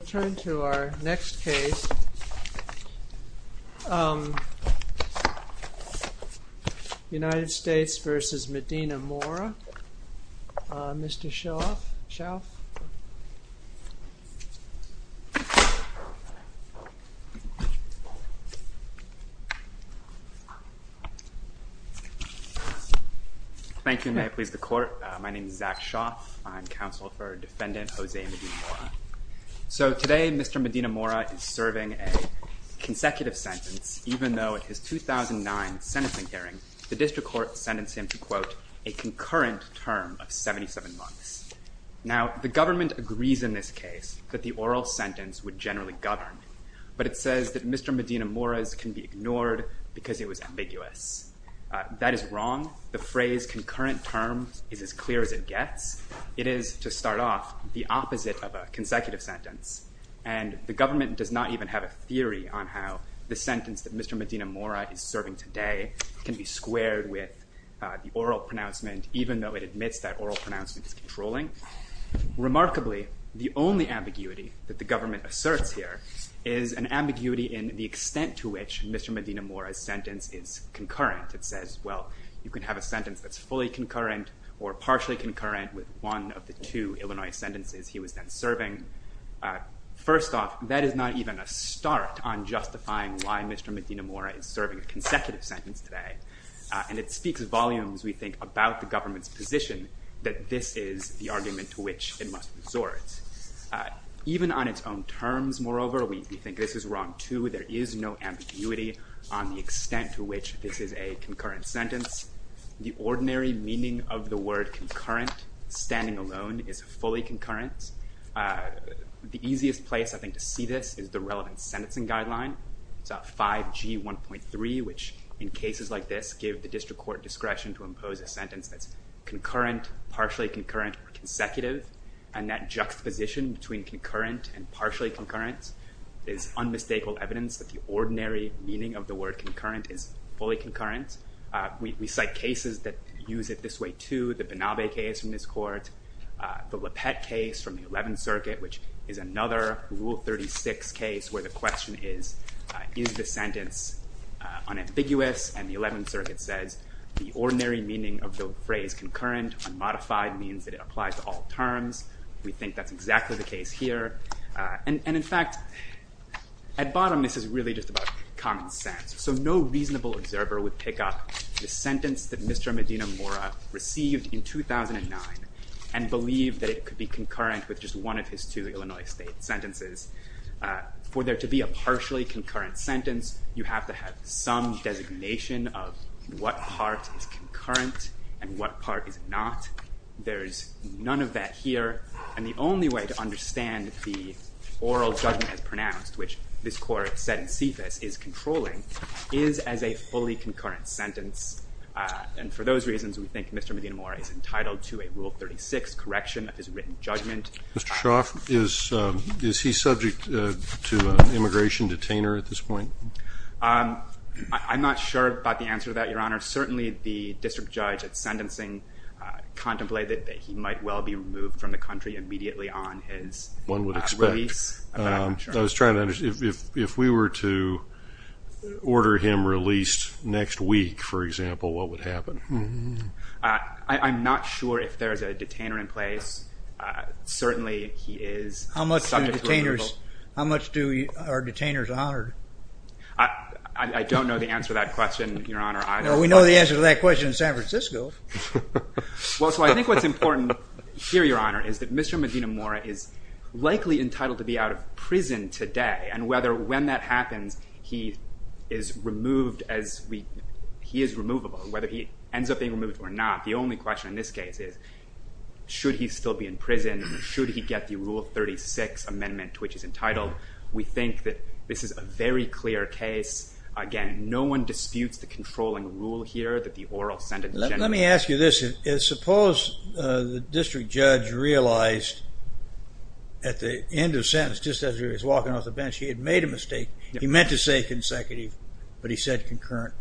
We'll turn to our next case, United States v. Medina-Mora. Mr. Shauf? Thank you. May I please the court? My name is Zach Shauf. I'm counsel for defendant Jose Medina-Mora. So today, Mr. Medina-Mora is serving a consecutive sentence, even though at his 2009 sentencing hearing, the district court sentenced him to, quote, a concurrent term of 77 months. Now, the government agrees in this case that the oral sentence would generally govern, but it says that Mr. Medina-Mora's can be ignored because it was ambiguous. That is wrong. The phrase concurrent term is as clear as it gets. It is, to start off, the opposite of a consecutive sentence. And the government does not even have a theory on how the sentence that Mr. Medina-Mora is serving today can be squared with the oral pronouncement, even though it admits that oral pronouncement is controlling. Remarkably, the only ambiguity that the government asserts here is an ambiguity in the extent to which Mr. Medina-Mora's sentence is concurrent. It says, well, you can have a sentence that's fully concurrent or partially concurrent with one of the two Illinois sentences he was then serving. First off, that is not even a start on justifying why Mr. Medina-Mora is serving a consecutive sentence today. And it speaks volumes, we think, about the government's position that this is the argument to which it must resort. Even on its own terms, moreover, we think this is wrong, too. There is no ambiguity on the extent to which this is a concurrent sentence. The ordinary meaning of the word concurrent, standing alone, is fully concurrent. The easiest place, I think, to see this is the relevant sentencing guideline. It's 5G 1.3, which, in cases like this, give the district court discretion to impose a sentence that's concurrent, partially concurrent, or consecutive. And that juxtaposition between concurrent and partially concurrent is unmistakable evidence that the ordinary meaning of the word concurrent is fully concurrent. We cite cases that use it this way, too. The Banabe case from this court, the LaPette case from the Eleventh Circuit, which is another Rule 36 case where the question is, is the sentence unambiguous? And the Eleventh Circuit says the ordinary meaning of the phrase concurrent, unmodified, means that it applies to all terms. We think that's exactly the case here. And in fact, at bottom, this is really just about common sense. So no reasonable observer would pick up the sentence that Mr. Medina-Mora received in 2009 and believe that it could be concurrent with just one of his two Illinois state sentences. For there to be a partially concurrent sentence, you have to have some designation of what part is concurrent and what part is not. There is none of that here. And the only way to understand the oral judgment as pronounced, which this court said in CFIS is controlling, is as a fully concurrent sentence. And for those reasons, we think Mr. Medina-Mora is entitled to a Rule 36 correction of his written judgment. Mr. Shoff, is he subject to an immigration detainer at this point? I'm not sure about the answer to that, Your Honor. Certainly, the district judge at sentencing contemplated that he might well be removed from the country immediately on his release. If we were to order him released next week, for example, what would happen? I'm not sure if there is a detainer in place. Certainly, he is subject to removal. How much are detainers honored? I don't know the answer to that question, Your Honor. Well, we know the answer to that question in San Francisco. Well, so I think what's important here, Your Honor, is that Mr. Medina-Mora is likely entitled to be out of prison today. And whether when that happens, he is removable, whether he ends up being removed or not. The only question in this case is, should he still be in prison? Should he get the Rule 36 amendment to which he is entitled? We think that this is a very clear case. Again, no one disputes the controlling rule here that the oral sentence generates. Let me ask you this. Suppose the district judge realized at the end of sentence, just as he was walking off the bench, he had made a mistake. He meant to say consecutive, but he said concurrent.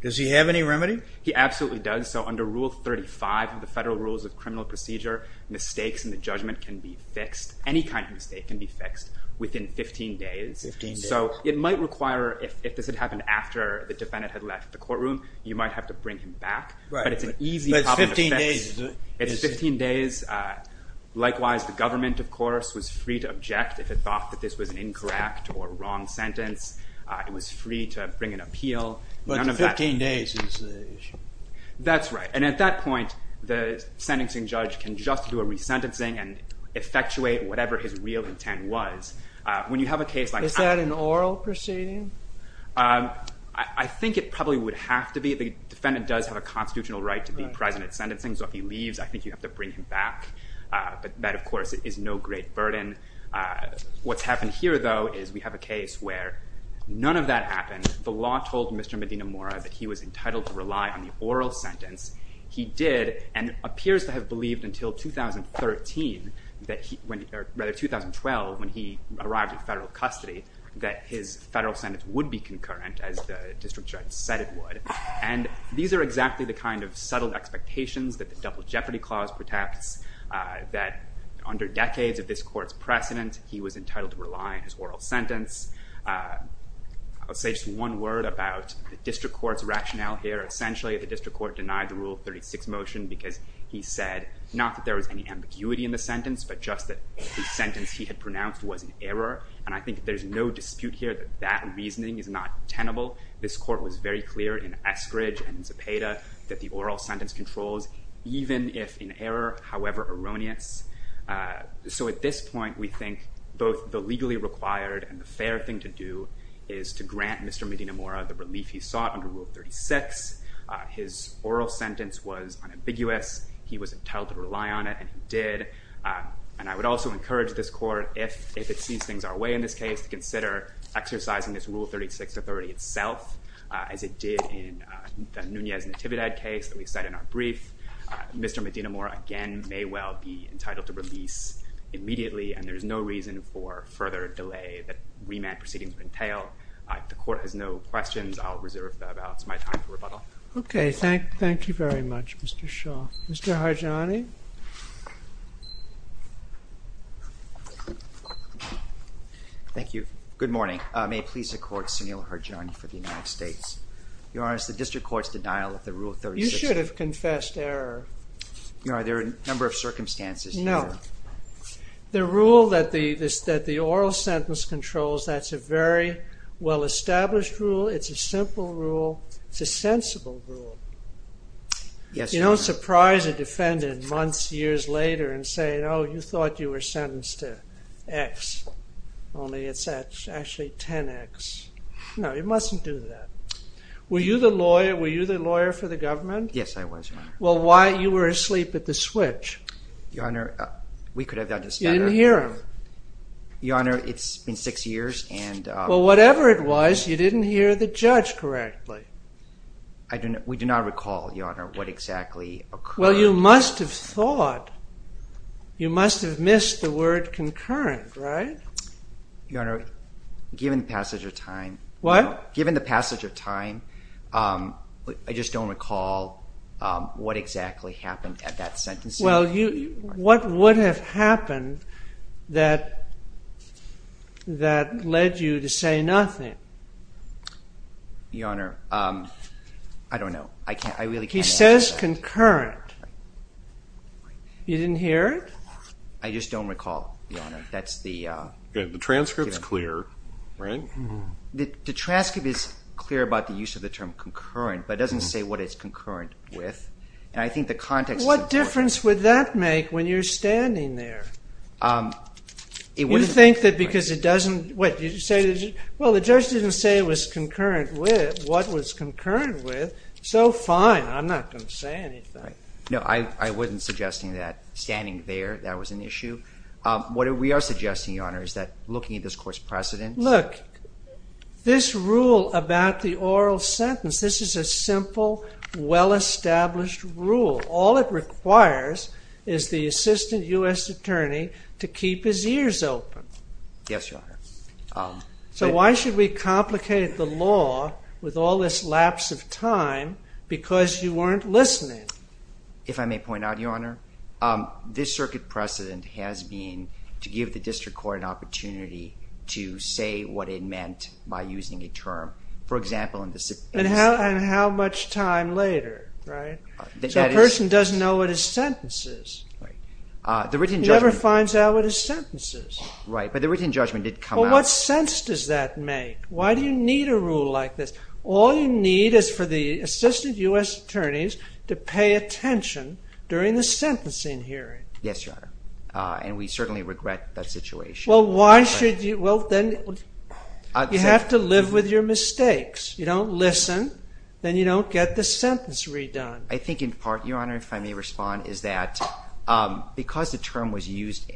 Does he have any remedy? He absolutely does. So under Rule 35 of the Federal Rules of Criminal Procedure, mistakes in the judgment can be fixed. Any kind of mistake can be fixed within 15 days. So it might require, if this had happened after the defendant had left the courtroom, you might have to bring him back. But it's an easy problem to fix. It's 15 days. Likewise, the government, of course, was free to object if it thought that this was an incorrect or wrong sentence. It was free to bring an appeal. But 15 days is the issue. That's right. And at that point, the sentencing judge can just do a resentencing and effectuate whatever his real intent was. Is that an oral proceeding? I think it probably would have to be. The defendant does have a constitutional right to be present at sentencing. So if he leaves, I think you have to bring him back. But that, of course, is no great burden. What's happened here, though, is we have a case where none of that happened. The law told Mr. Medina-Mora that he was entitled to rely on the oral sentence. He did, and appears to have believed until 2013, or rather 2012, when he arrived in federal custody, that his federal sentence would be concurrent, as the district judge said it would. And these are exactly the kind of subtle expectations that the Double Jeopardy Clause protects, that under decades of this court's precedent, he was entitled to rely on his oral sentence. I'll say just one word about the district court's rationale here. Essentially, the district court denied the Rule 36 motion because he said, not that there was any ambiguity in the sentence, but just that the sentence he had pronounced was an error. And I think there's no dispute here that that reasoning is not tenable. This court was very clear in Eskridge and Zepeda that the oral sentence controls, even if in error, however erroneous. So at this point, we think both the legally required and the fair thing to do is to grant Mr. Medina-Mora the relief he sought under Rule 36. His oral sentence was unambiguous. He was entitled to rely on it, and he did. And I would also encourage this court, if it sees things our way in this case, to consider exercising this Rule 36 authority itself, as it did in the Nunez-Natividad case that we cite in our brief. Mr. Medina-Mora, again, may well be entitled to release immediately, and there's no reason for further delay that remand proceedings would entail. If the court has no questions, I'll reserve the balance of my time for rebuttal. Okay, thank you very much, Mr. Shaw. Mr. Harjani? Thank you. Good morning. May it please the court, Sunil Harjani for the United States. Your Honor, is the district court's denial of the Rule 36— You should have confessed error. Your Honor, there are a number of circumstances. No. The rule that the oral sentence controls, that's a very well-established rule. It's a simple rule. It's a sensible rule. Yes, Your Honor. You don't surprise a defendant months, years later and say, oh, you thought you were sentenced to X, only it's actually 10X. No, you mustn't do that. Were you the lawyer for the government? Yes, I was, Your Honor. Well, why? You were asleep at the switch. Your Honor, we could have done this better. You didn't hear him. Your Honor, it's been six years, and— Well, whatever it was, you didn't hear the judge correctly. We do not recall, Your Honor, what exactly occurred. Well, you must have thought. You must have missed the word concurrent, right? Your Honor, given the passage of time— What? Given the passage of time, I just don't recall what exactly happened at that sentencing. Well, what would have happened that led you to say nothing? Your Honor, I don't know. I really can't answer that. He says concurrent. You didn't hear it? I just don't recall, Your Honor. That's the— The transcript's clear, right? The transcript is clear about the use of the term concurrent, but it doesn't say what it's concurrent with. And I think the context— What difference would that make when you're standing there? It wouldn't— You think that because it doesn't—what? Well, the judge didn't say what it was concurrent with, so fine. I'm not going to say anything. No, I wasn't suggesting that standing there, that was an issue. What we are suggesting, Your Honor, is that looking at this court's precedents— Look, this rule about the oral sentence, this is a simple, well-established rule. All it requires is the assistant U.S. attorney to keep his ears open. Yes, Your Honor. So why should we complicate the law with all this lapse of time because you weren't listening? If I may point out, Your Honor, this circuit precedent has been to give the district court an opportunity to say what it meant by using a term. For example— And how much time later, right? That is— So a person doesn't know what his sentence is. Right. The written judgment— He never finds out what his sentence is. Right, but the written judgment did come out— Well, what sense does that make? Why do you need a rule like this? All you need is for the assistant U.S. attorneys to pay attention during the sentencing hearing. Yes, Your Honor, and we certainly regret that situation. Well, why should you—well, then, you have to live with your mistakes. You don't listen, then you don't get the sentence redone. I think in part, Your Honor, if I may respond, is that because the term was used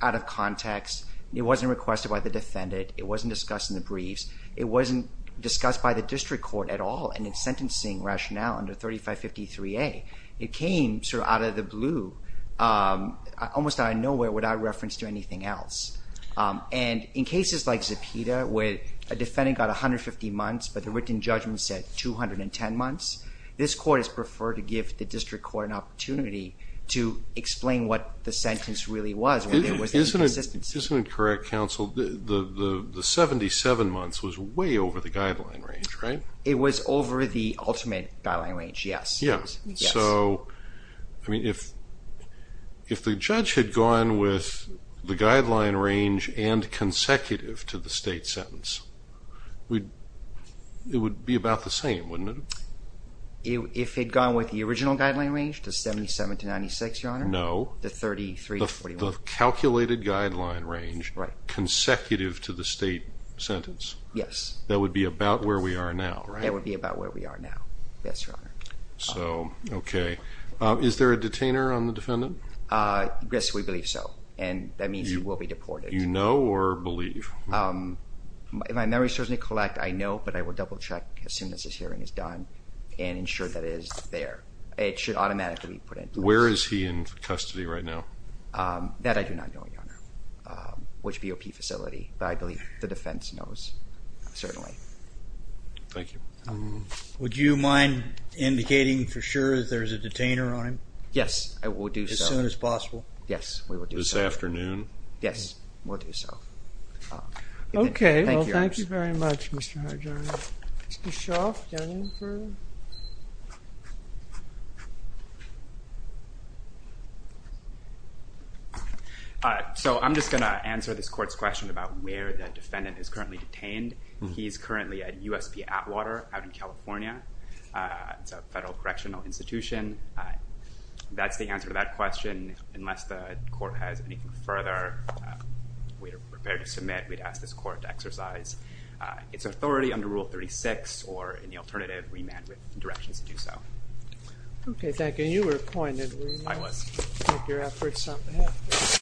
out of context, it wasn't requested by the defendant, it wasn't discussed in the briefs, it wasn't discussed by the district court at all in its sentencing rationale under 3553A. It came sort of out of the blue, almost out of nowhere, without reference to anything else. And in cases like Zepeda, where a defendant got 150 months, but the written judgment said 210 months, this court has preferred to give the district court an opportunity to explain what the sentence really was. Isn't it correct, counsel, the 77 months was way over the guideline range, right? It was over the ultimate guideline range, yes. Yes. So, I mean, if the judge had gone with the guideline range and consecutive to the state sentence, it would be about the same, wouldn't it? If it had gone with the original guideline range, the 77 to 96, Your Honor? No. The 33 to 41. The calculated guideline range, consecutive to the state sentence? Yes. That would be about where we are now, right? That would be about where we are now, yes, Your Honor. So, okay. Is there a detainer on the defendant? Yes, we believe so, and that means he will be deported. You know or believe? If my memory serves me correct, I know, but I will double check as soon as this hearing is done and ensure that it is there. It should automatically be put into place. Where is he in custody right now? That I do not know, Your Honor, which BOP facility, but I believe the defense knows, certainly. Thank you. Would you mind indicating for sure that there is a detainer on him? Yes, I will do so. As soon as possible? Yes, we will do so. Yes, we'll do so. Okay. Thank you, Your Honor. Thank you very much, Mr. Harjo. Mr. Shaw, do you have anything further? So, I'm just going to answer this court's question about where the defendant is currently detained. He is currently at USP Atwater out in California. It's a federal correctional institution. That's the answer to that question. Unless the court has anything further, we are prepared to submit. We'd ask this court to exercise its authority under Rule 36 or any alternative remand directions to do so. Okay, thank you. You were appointed, were you not? I was. I'll take your efforts on that.